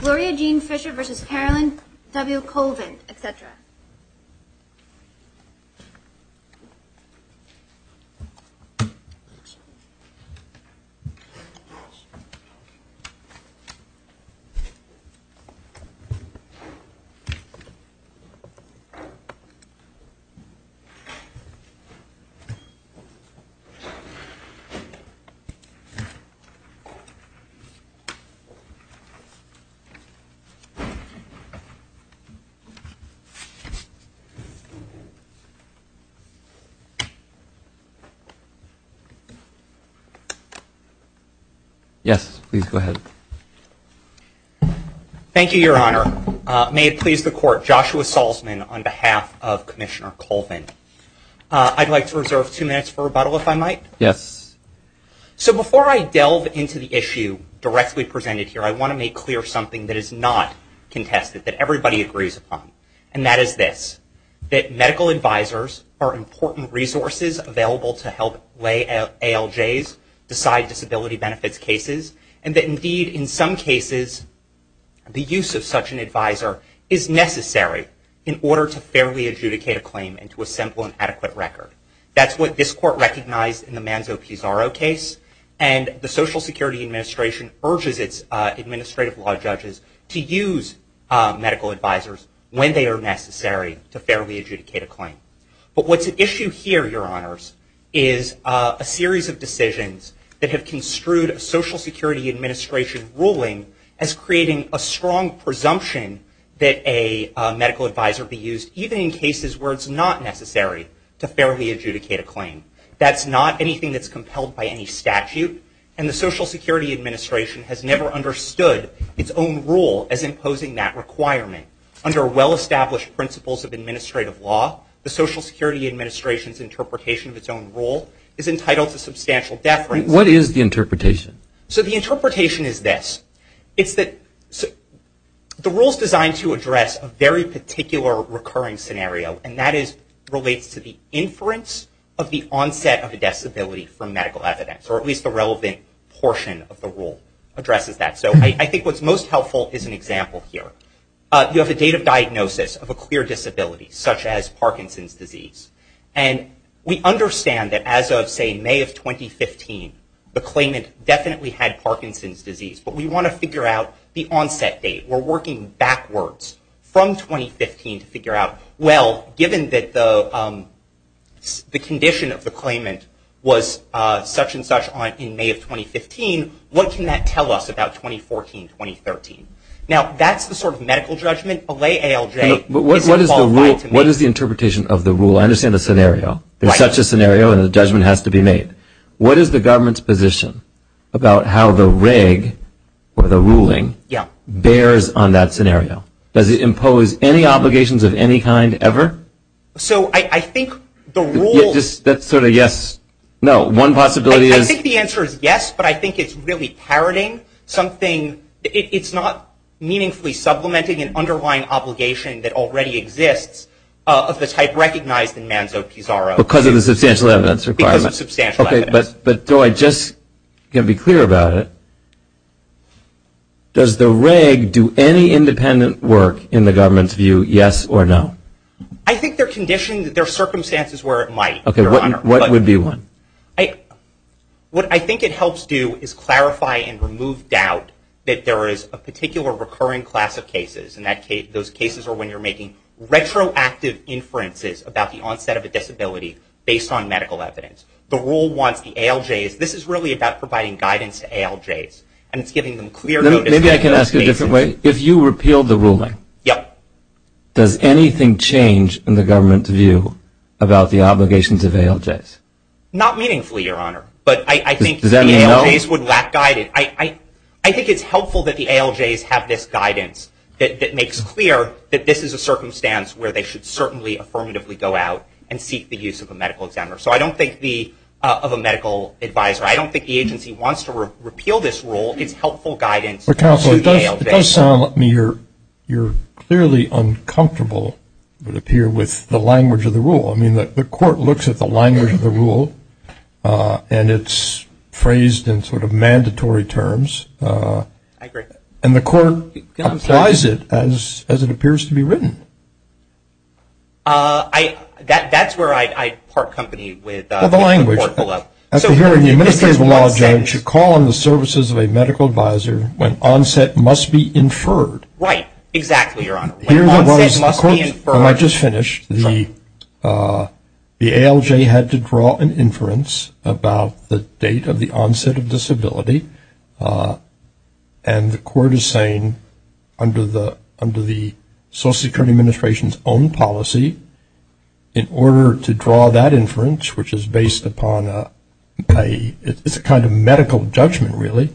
Gloria Jean Fischer v. Carolyn W. Colvin, etc. Yes, please go ahead. Thank you, Your Honor. May it please the Court, Joshua Salzman on behalf of Commissioner Colvin. I'd like to reserve two minutes for rebuttal, if I might. Yes. So before I delve into the issue directly presented here, I want to make clear something that is not contested, that everybody agrees upon. And that is this, that medical advisors are important resources available to help ALJs decide disability benefits cases. And that indeed, in some cases, the use of such an advisor is necessary in order to fairly adjudicate a claim into a simple and adequate record. That's what this Court recognized in the Manzo-Pizarro case. And the Social Security Administration urges its administrative law judges to use medical advisors when they are necessary to fairly adjudicate a claim. But what's at issue here, Your Honors, is a series of decisions that have construed a Social Security Administration ruling as creating a strong presumption that a medical advisor be able to adjudicate a claim. That's not anything that's compelled by any statute. And the Social Security Administration has never understood its own rule as imposing that requirement. Under well-established principles of administrative law, the Social Security Administration's interpretation of its own rule is entitled to substantial deference. What is the interpretation? So the interpretation is this. It's that the rule is designed to address a very particular recurring scenario. And that relates to the inference of the onset of a disability from medical evidence, or at least the relevant portion of the rule addresses that. So I think what's most helpful is an example here. You have a date of diagnosis of a clear disability, such as Parkinson's disease. And we understand that as of, say, May of 2015, the claimant definitely had Parkinson's disease. But we want to figure out the onset date. We're working backwards from 2015 to figure out, well, given that the condition of the claimant was such and such in May of 2015, what can that tell us about 2014, 2013? Now, that's the sort of medical judgment. A lay ALJ isn't qualified to make. What is the interpretation of the rule? I understand the scenario. There's such a scenario, and the judgment has to be made. What is the government's position about how the reg, or the ruling, bears on that scenario? Does it impose any obligations of any kind, ever? So I think the rule is- That's sort of yes, no. One possibility is- I think the answer is yes, but I think it's really parroting something. It's not meaningfully supplementing an underlying obligation that already exists of the type recognized in Manzo-Pizarro. Because of the substantial evidence requirement. Because of substantial evidence. But, Joy, just to be clear about it, does the reg do any independent work in the government's view, yes or no? I think they're conditioned, there are circumstances where it might, Your Honor. What would be one? What I think it helps do is clarify and remove doubt that there is a particular recurring class of cases, and those cases are when you're making retroactive inferences about the onset of a disability based on medical evidence. The rule wants the ALJs, this is really about providing guidance to ALJs, and it's giving them clear notices. Maybe I can ask a different way. If you repeal the ruling, does anything change in the government's view about the obligations of ALJs? Not meaningfully, Your Honor, but I think the ALJs would lack guidance. I think it's helpful that the ALJs have this guidance that makes clear that this is a circumstance where they should certainly affirmatively go out and seek the use of a medical examiner. So I don't think the, of a medical advisor, I don't think the agency wants to repeal this rule. It's helpful guidance to the ALJs. It does sound to me you're clearly uncomfortable with the language of the rule. I mean, the court looks at the language of the rule and it's phrased in sort of mandatory terms, and the court applies it as it appears to be written. That's where I'd part company with the court below. After hearing the administrative law judge should call on the services of a medical advisor when onset must be inferred. Right, exactly, Your Honor. When onset must be inferred. When I just finished, the ALJ had to draw an inference about the date of the onset of disability. And the court is saying, under the Social Security Administration's own policy, in order to draw that inference, which is based upon a kind of medical judgment, really,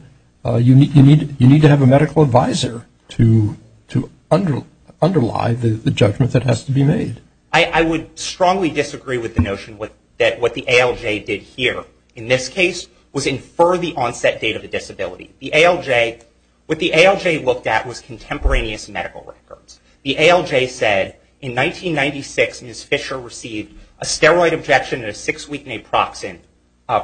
you need to have a medical advisor to underlie the judgment that has to be made. I would strongly disagree with the notion that what the ALJ did here, in this case, was infer the onset date of the disability. The ALJ, what the ALJ looked at was contemporaneous medical records. The ALJ said, in 1996, Ms. Fisher received a steroid injection and a six-week naproxen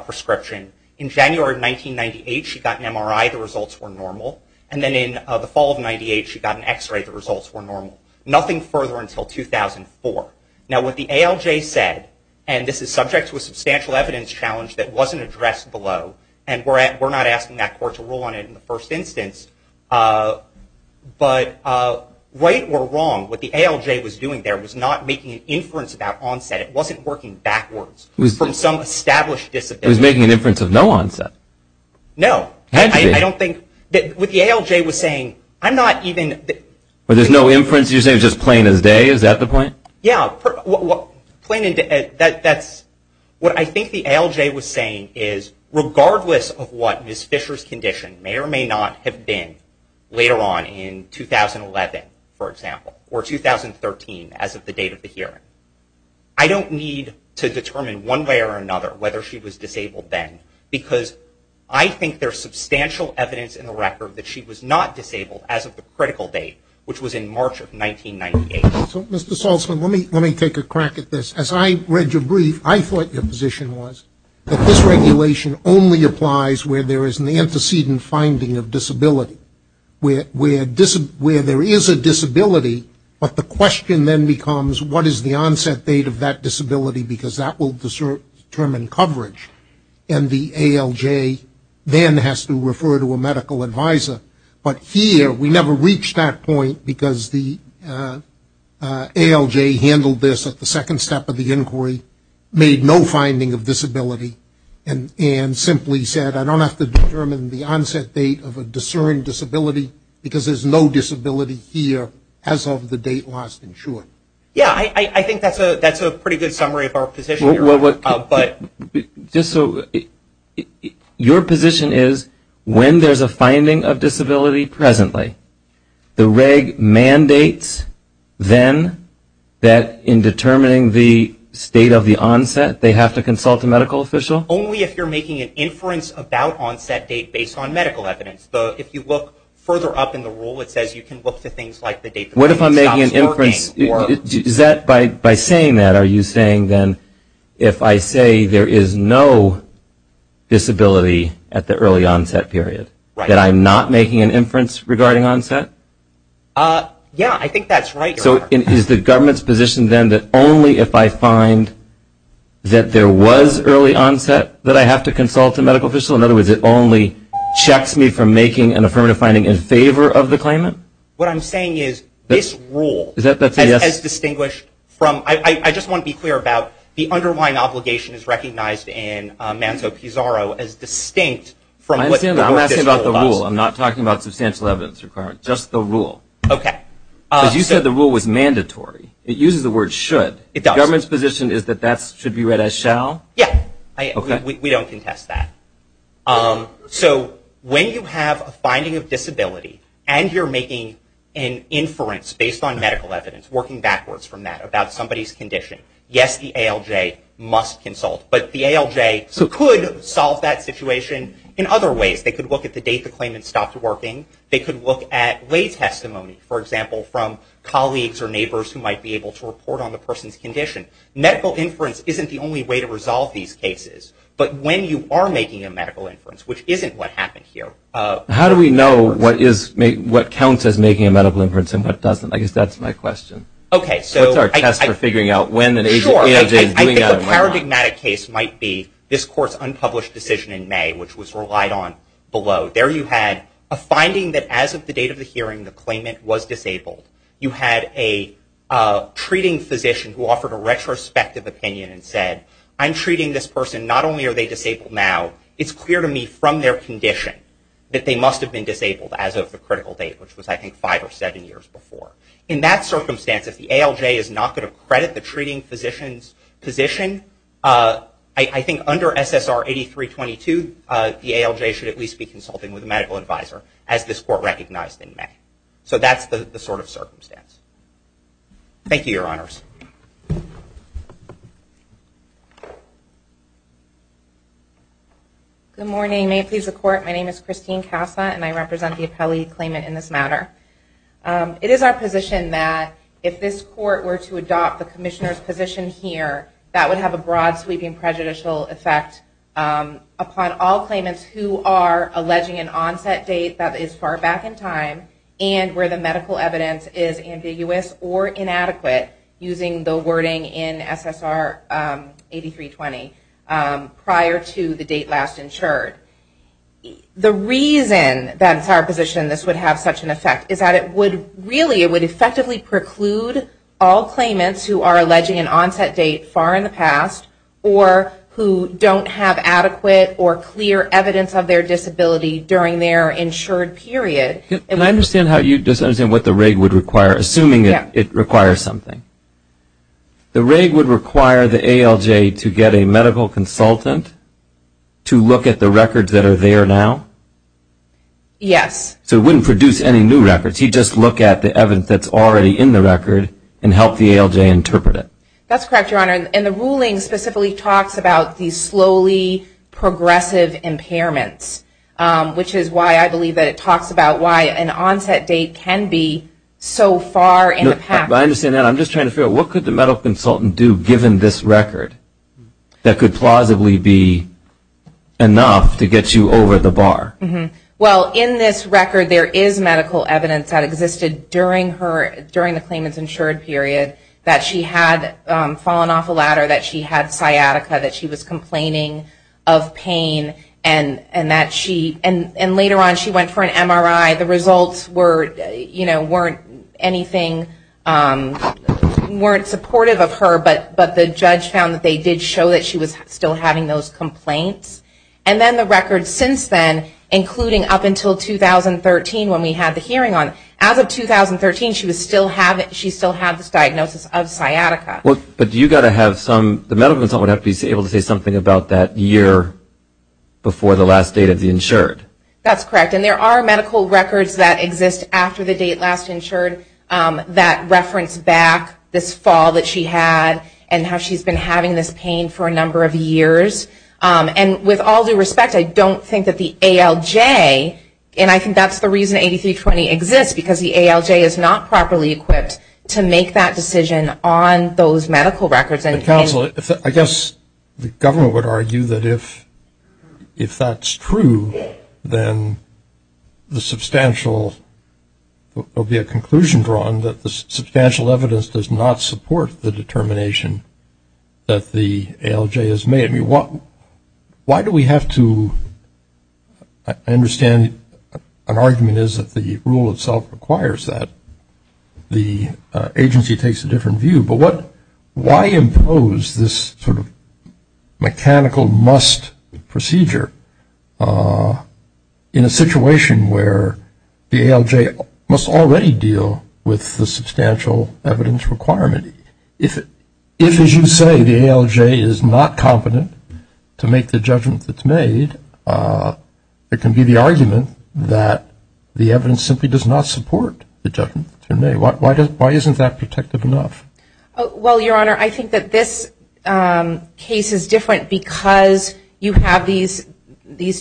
prescription. In January of 1998, she got an MRI. The results were normal. And then in the fall of 98, she got an X-ray. The results were normal. Nothing further until 2004. Now, what the ALJ said, and this is subject to a substantial evidence challenge that wasn't addressed below, and we're not asking that court to rule on it in the first instance, but right or wrong, what the ALJ was doing there was not making an inference about onset. It wasn't working backwards from some established disability. It was making an inference of no onset. No. I don't think, what the ALJ was saying, I'm not even... But there's no inference? You're saying just plain as day? Is that the point? Yeah. What I think the ALJ was saying is, regardless of what Ms. Fisher's condition may or may not have been later on in 2011, for example, or 2013, as of the date of the hearing, I don't need to determine one way or another whether she was disabled then, because I think there's substantial evidence in the record that she was not disabled as of the critical date, which was in March of 1998. Mr. Saltzman, let me take a crack at this. As I read your brief, I thought your position was that this regulation only applies where there is an antecedent finding of disability, where there is a disability, but the question then becomes, what is the onset date of that disability? Because that will determine coverage. And the ALJ then has to refer to a medical advisor. But here, we never reached that point because the ALJ handled this at the second step of the inquiry, made no finding of disability, and simply said, I don't have to determine the onset date of a discerned disability because there's no disability here as of the date lost in short. Yeah, I think that's a pretty good summary of our position here. But just so, your position is when there's a finding of disability presently, the reg mandates then that in determining the state of the onset, they have to consult a medical official? Only if you're making an inference about onset date based on medical evidence. But if you look further up in the rule, it says you can look for things like the date the clinic stops working. What if I'm making an inference, is that by saying that, are you saying then, if I say there is no disability at the early onset period, that I'm not making an inference regarding onset? Yeah, I think that's right. So is the government's position then that only if I find that there was early onset that I have to consult a medical official? In other words, it only checks me from making an affirmative finding in favor of the claimant? What I'm saying is this rule Is that that's a yes? As distinguished from, I just want to be clear about the underlying obligation is recognized in Manto-Pizarro as distinct from what this rule does. I'm asking about the rule, I'm not talking about substantial evidence requirement, just the rule. Okay. Because you said the rule was mandatory. It uses the word should. It does. The government's position is that that should be read as shall? Yeah, we don't contest that. So when you have a finding of disability and you're making an inference based on medical evidence, working backwards from that about somebody's condition, yes, the ALJ must consult, but the ALJ could solve that situation in other ways. They could look at the date the claimant stopped working. They could look at lay testimony, for example, from colleagues or neighbors who might be able to report on the person's condition. Medical inference isn't the only way to resolve these cases, but when you are making a medical inference, which isn't what happened here. How do we know what counts as making a medical inference and what doesn't? I guess that's my question. Okay, so. What's our test for figuring out when an ALJ is doing that and when not? Sure, I think the paradigmatic case might be this court's unpublished decision in May, which was relied on below. There you had a finding that as of the date of the hearing, the claimant was disabled. You had a treating physician who offered a retrospective opinion and said, I'm treating this person. Not only are they disabled now, it's clear to me from their condition that they must have been disabled as of the critical date, which was, I think, five or seven years before. In that circumstance, if the ALJ is not going to credit the treating physician's position, I think under SSR 8322, the ALJ should at least be consulting with a medical advisor, as this court recognized in May. So that's the sort of circumstance. Thank you, your honors. Good morning. May it please the court, my name is Christine Casa, and I represent the appellee claimant in this matter. It is our position that if this court were to adopt the commissioner's position here, that would have a broad sweeping prejudicial effect upon all claimants who are alleging an onset date that is far back in time and where the medical evidence is ambiguous or inadequate, using the wording in SSR 8320, prior to the date last insured. The reason that's our position this would have such an effect is that it would really, it would effectively preclude all claimants who are alleging an onset date far in the past or who don't have adequate or clear evidence of their disability during their insured period. Can I understand how you, just understand what the reg would require, assuming it requires something. The reg would require the ALJ to get a medical consultant to look at the records that are there now? Yes. So it wouldn't produce any new records, he'd just look at the evidence that's already in the record and help the ALJ interpret it. That's correct, your honor. And the ruling specifically talks about these slowly progressive impairments, which is why I believe that it talks about why an onset date can be so far in the past. I understand that, I'm just trying to figure out what could the medical consultant do given this record that could plausibly be enough to get you over the bar? Well, in this record there is medical evidence that existed during the claimant's insured period that she had fallen off a ladder, that she had sciatica, that she was complaining of pain, and that she, and later on she went for an MRI, the results weren't anything, weren't supportive of her, but the judge found that they did show that she was still having those complaints. And then the record since then, including up until 2013 when we had the hearing on it, as of 2013 she still had this diagnosis of sciatica. But do you gotta have some, the medical consultant would have to be able to say something about that year before the last date of the insured? That's correct, and there are medical records that exist after the date last insured that reference back this fall that she had and how she's been having this pain for a number of years. And with all due respect, I don't think that the ALJ, and I think that's the reason 8320 exists, because the ALJ is not properly equipped to make that decision on those medical records. Counsel, I guess the government would argue that if that's true, then the substantial, there'll be a conclusion drawn that the substantial evidence does not support the determination that the ALJ has made. I mean, why do we have to, I understand an argument is that the rule itself requires that. The agency takes a different view, but why impose this sort of mechanical must procedure in a situation where the ALJ must already deal with the substantial evidence requirement? If, as you say, the ALJ is not competent to make the judgment that's made, it can be the argument that the evidence simply does not support the judgment that's been made. Why isn't that protective enough? Well, Your Honor, I think that this case is different because you have these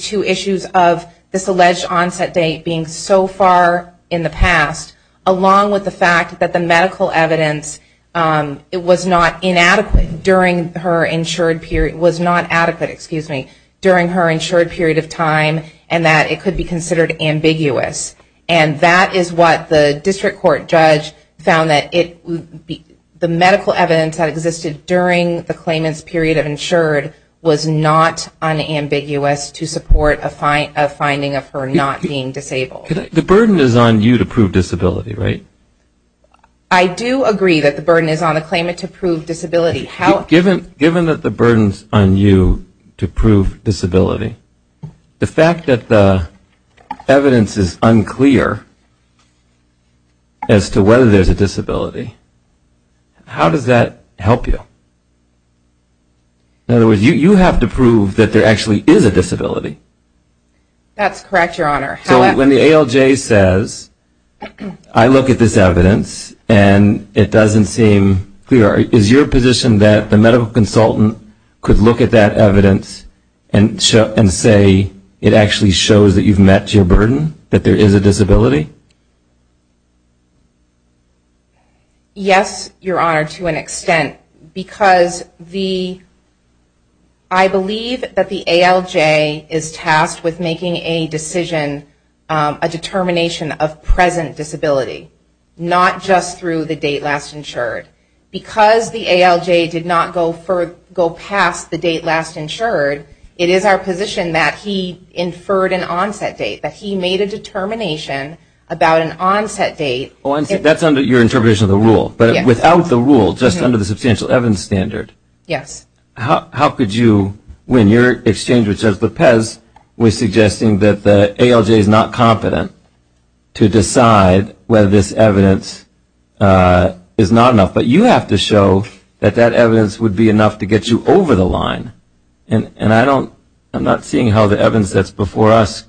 two issues of this alleged onset date being so far in the past, along with the fact that the medical evidence, it was not inadequate during her insured period, was not adequate, excuse me, during her insured period of time, and that it could be considered ambiguous. And that is what the district court judge found that the medical evidence that existed during the claimant's period of insured was not unambiguous to support a finding of her not being disabled. The burden is on you to prove disability, right? I do agree that the burden is on the claimant to prove disability. Given that the burden's on you to prove disability, the fact that the evidence is unclear as to whether there's a disability, how does that help you? In other words, you have to prove that there actually is a disability. That's correct, Your Honor. So when the ALJ says, I look at this evidence and it doesn't seem clear, is your position that the medical consultant could look at that evidence and say it actually shows that you've met your burden, that there is a disability? Yes, Your Honor, to an extent, because I believe that the ALJ is tasked with making a decision, a determination of present disability, not just through the date last insured. Because the ALJ did not go past the date last insured, it is our position that he inferred an onset date, that he made a determination about an onset date. That's under your interpretation of the rule, but without the rule, just under the substantial evidence standard, how could you, when your exchange with Judge Lopez was suggesting that the ALJ is not confident to decide whether this evidence is not enough, but you have to show that that evidence would be enough to get you over the line. And I'm not seeing how the evidence that's before us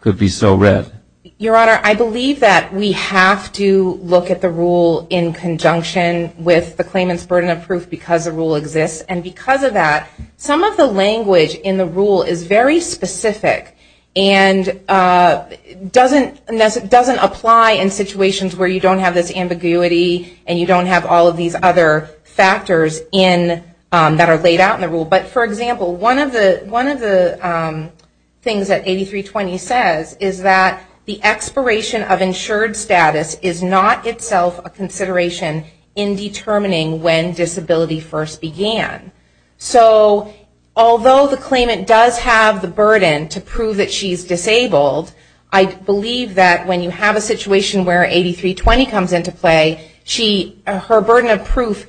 could be so red. Your Honor, I believe that we have to look at the rule in conjunction with the claimant's burden of proof because the rule exists. And because of that, some of the language in the rule is very specific. And doesn't apply in situations where you don't have this ambiguity and you don't have all of these other factors in that are laid out in the rule. But for example, one of the things that 8320 says is that the expiration of insured status is not itself a consideration in determining when disability first began. So although the claimant does have the burden to prove that she's disabled, I believe that when you have a situation where 8320 comes into play, she, her burden of proof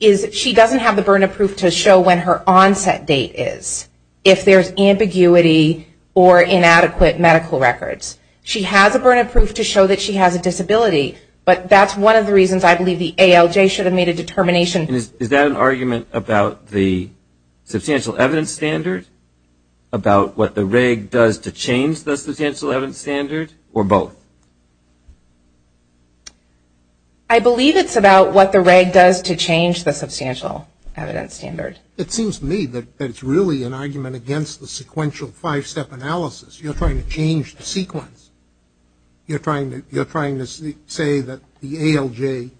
is, she doesn't have the burden of proof to show when her onset date is, if there's ambiguity or inadequate medical records. She has a burden of proof to show that she has a disability, but that's one of the reasons I believe the ALJ should have made a determination. Is that an argument about the substantial evidence standard? About what the reg does to change the substantial evidence standard or both? I believe it's about what the reg does to change the substantial evidence standard. It seems to me that it's really an argument against the sequential five-step analysis. You're trying to change the sequence. You're trying to say that the ALJ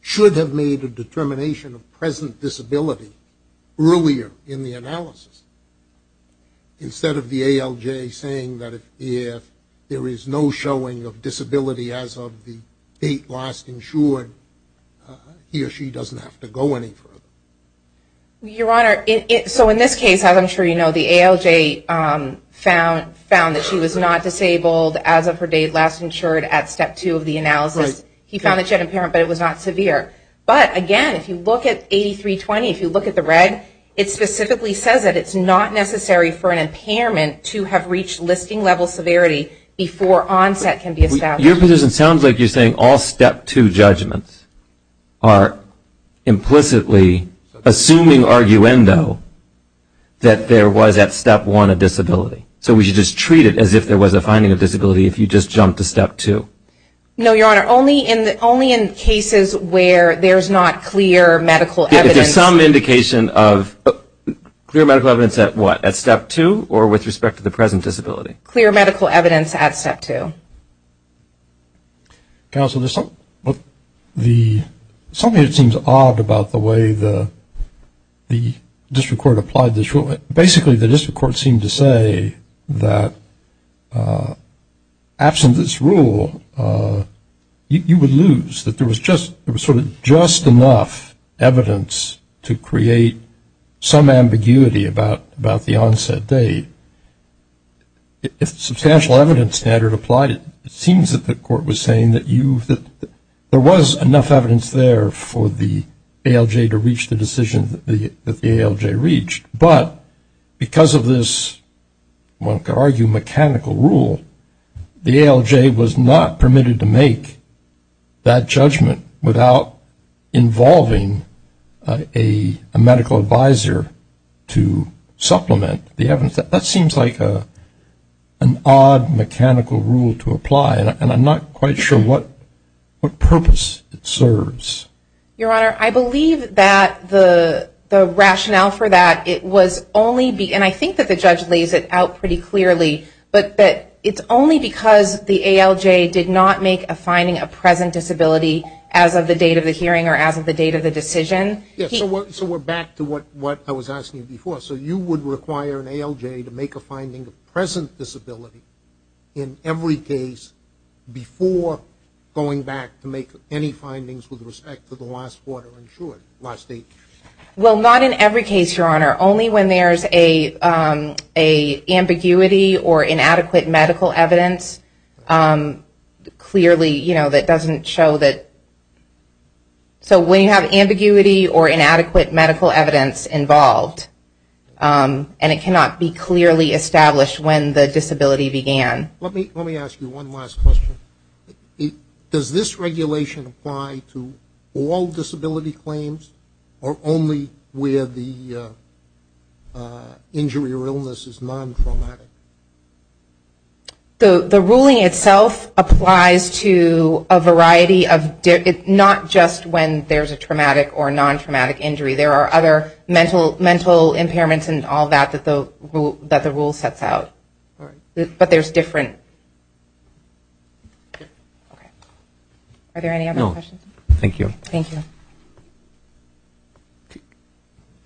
should have made a determination of present disability earlier in the analysis, instead of the ALJ saying that if there is no showing of disability as of the date last insured, he or she doesn't have to go any further. Your Honor, so in this case, as I'm sure you know, the ALJ found that she was not disabled as of her date last insured at step two of the analysis. He found that she had impairment, but it was not severe. But again, if you look at 8320, if you look at the reg, it specifically says that it's not necessary for an impairment to have reached listing level severity before onset can be established. Your position sounds like you're saying all step two judgments are implicitly assuming arguendo that there was at step one a disability. So we should just treat it as if there was a finding of disability if you just jumped to step two. No, Your Honor, only in cases where there's not clear medical evidence. If there's some indication of clear medical evidence at what, at step two, or with respect to the present disability? Clear medical evidence at step two. Counsel, there's something that seems odd about the way the district court applied this rule. Basically, the district court seemed to say that absent this rule, you would lose, that there was sort of just enough evidence to create some ambiguity about the onset date. If substantial evidence standard applied, it seems that the court was saying that there was enough evidence there for the ALJ to reach the decision that the ALJ reached. But because of this, one could argue, mechanical rule, the ALJ was not permitted to make that judgment without involving a medical advisor to supplement the evidence. That seems like an odd mechanical rule to apply, and I'm not quite sure what purpose it serves. Your Honor, I believe that the rationale for that, and I think that the judge lays it out pretty clearly, but that it's only because the ALJ did not make a finding of present disability as of the date of the hearing or as of the date of the decision. So we're back to what I was asking you before. So you would require an ALJ to make a finding of present disability in every case before going back to make any findings with respect to the last quarter, in short, last date? Well, not in every case, Your Honor. Only when there's a ambiguity or inadequate medical evidence, clearly, you know, that doesn't show that... So when you have ambiguity or inadequate medical evidence involved, and it cannot be clearly established when the disability began. Let me ask you one last question. Does this regulation apply to all disability claims or only where the injury or illness is non-traumatic? The ruling itself applies to a variety of... Not just when there's a traumatic or non-traumatic injury. There are other mental impairments and all that that the rule sets out, but there's different... Are there any other questions? Thank you. Thank you.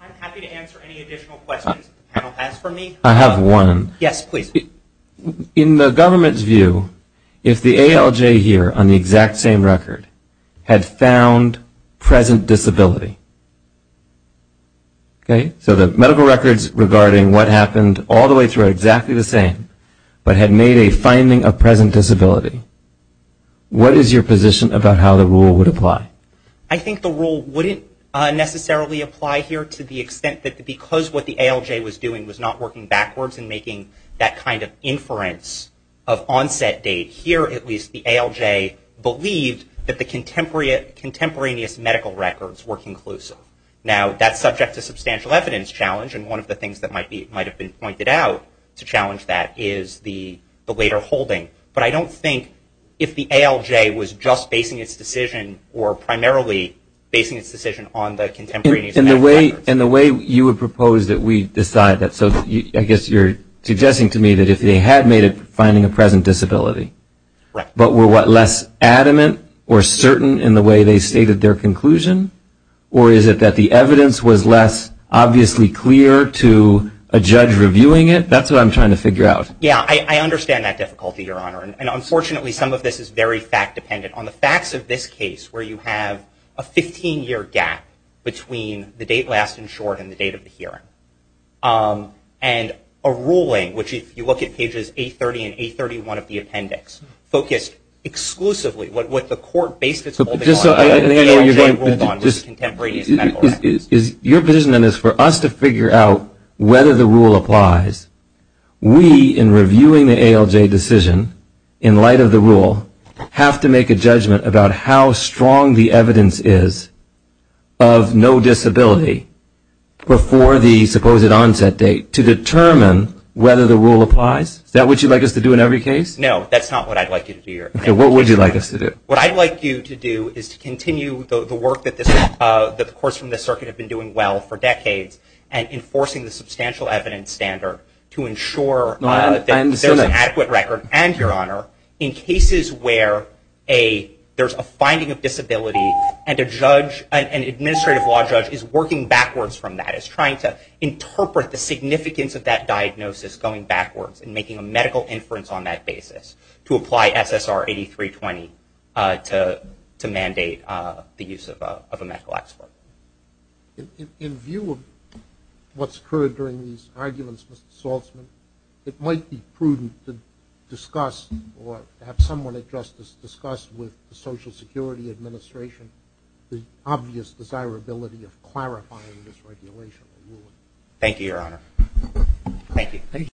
I'm happy to answer any additional questions the panel has for me. I have one. Yes, please. In the government's view, if the ALJ here on the exact same record had found present disability, okay? So the medical records regarding what happened all the way through are exactly the same, but had made a finding of present disability. What is your position about how the rule would apply? I think the rule wouldn't necessarily apply here to the extent that because what the ALJ was doing was not working backwards and making that kind of inference of onset date here, at least the ALJ believed that the contemporaneous medical records were conclusive. Now that's subject to substantial evidence challenge. And one of the things that might have been pointed out to challenge that is the later holding. But I don't think if the ALJ was just basing its decision or primarily basing its decision on the contemporaneous medical records. In the way you would propose that we decide that. So I guess you're suggesting to me that if they had made a finding of present disability, but were less adamant or certain in the way they stated their conclusion, or is it that the evidence was less obviously clear to a judge reviewing it? That's what I'm trying to figure out. Yeah, I understand that difficulty, Your Honor. And unfortunately, some of this is very fact dependent. On the facts of this case, where you have a 15-year gap between the date last insured and the date of the hearing. And a ruling, which if you look at pages 830 and 831 of the appendix, focused exclusively what the court based its holding on. Just so I understand what you're getting at. Is your position on this for us to figure out whether the rule applies? We, in reviewing the ALJ decision in light of the rule, have to make a judgment about how strong the evidence is of no disability before the supposed onset date to determine whether the rule applies? Is that what you'd like us to do in every case? No, that's not what I'd like you to do, Your Honor. Okay, what would you like us to do? What I'd like you to do is to continue the work that the courts from this circuit have been doing well for decades, and enforcing the substantial evidence standard to ensure that there's an adequate record. And, Your Honor, in cases where there's a finding of disability and an administrative law judge is working backwards from that, is trying to interpret the significance of that diagnosis going backwards and making a medical inference on that basis, to apply SSR 8320 to mandate the use of a medical expert. In view of what's occurred during these arguments, Mr. Saltzman, it might be prudent to discuss or have someone at justice discuss with the Social Security Administration the obvious desirability of clarifying this regulation. Thank you, Your Honor. Thank you.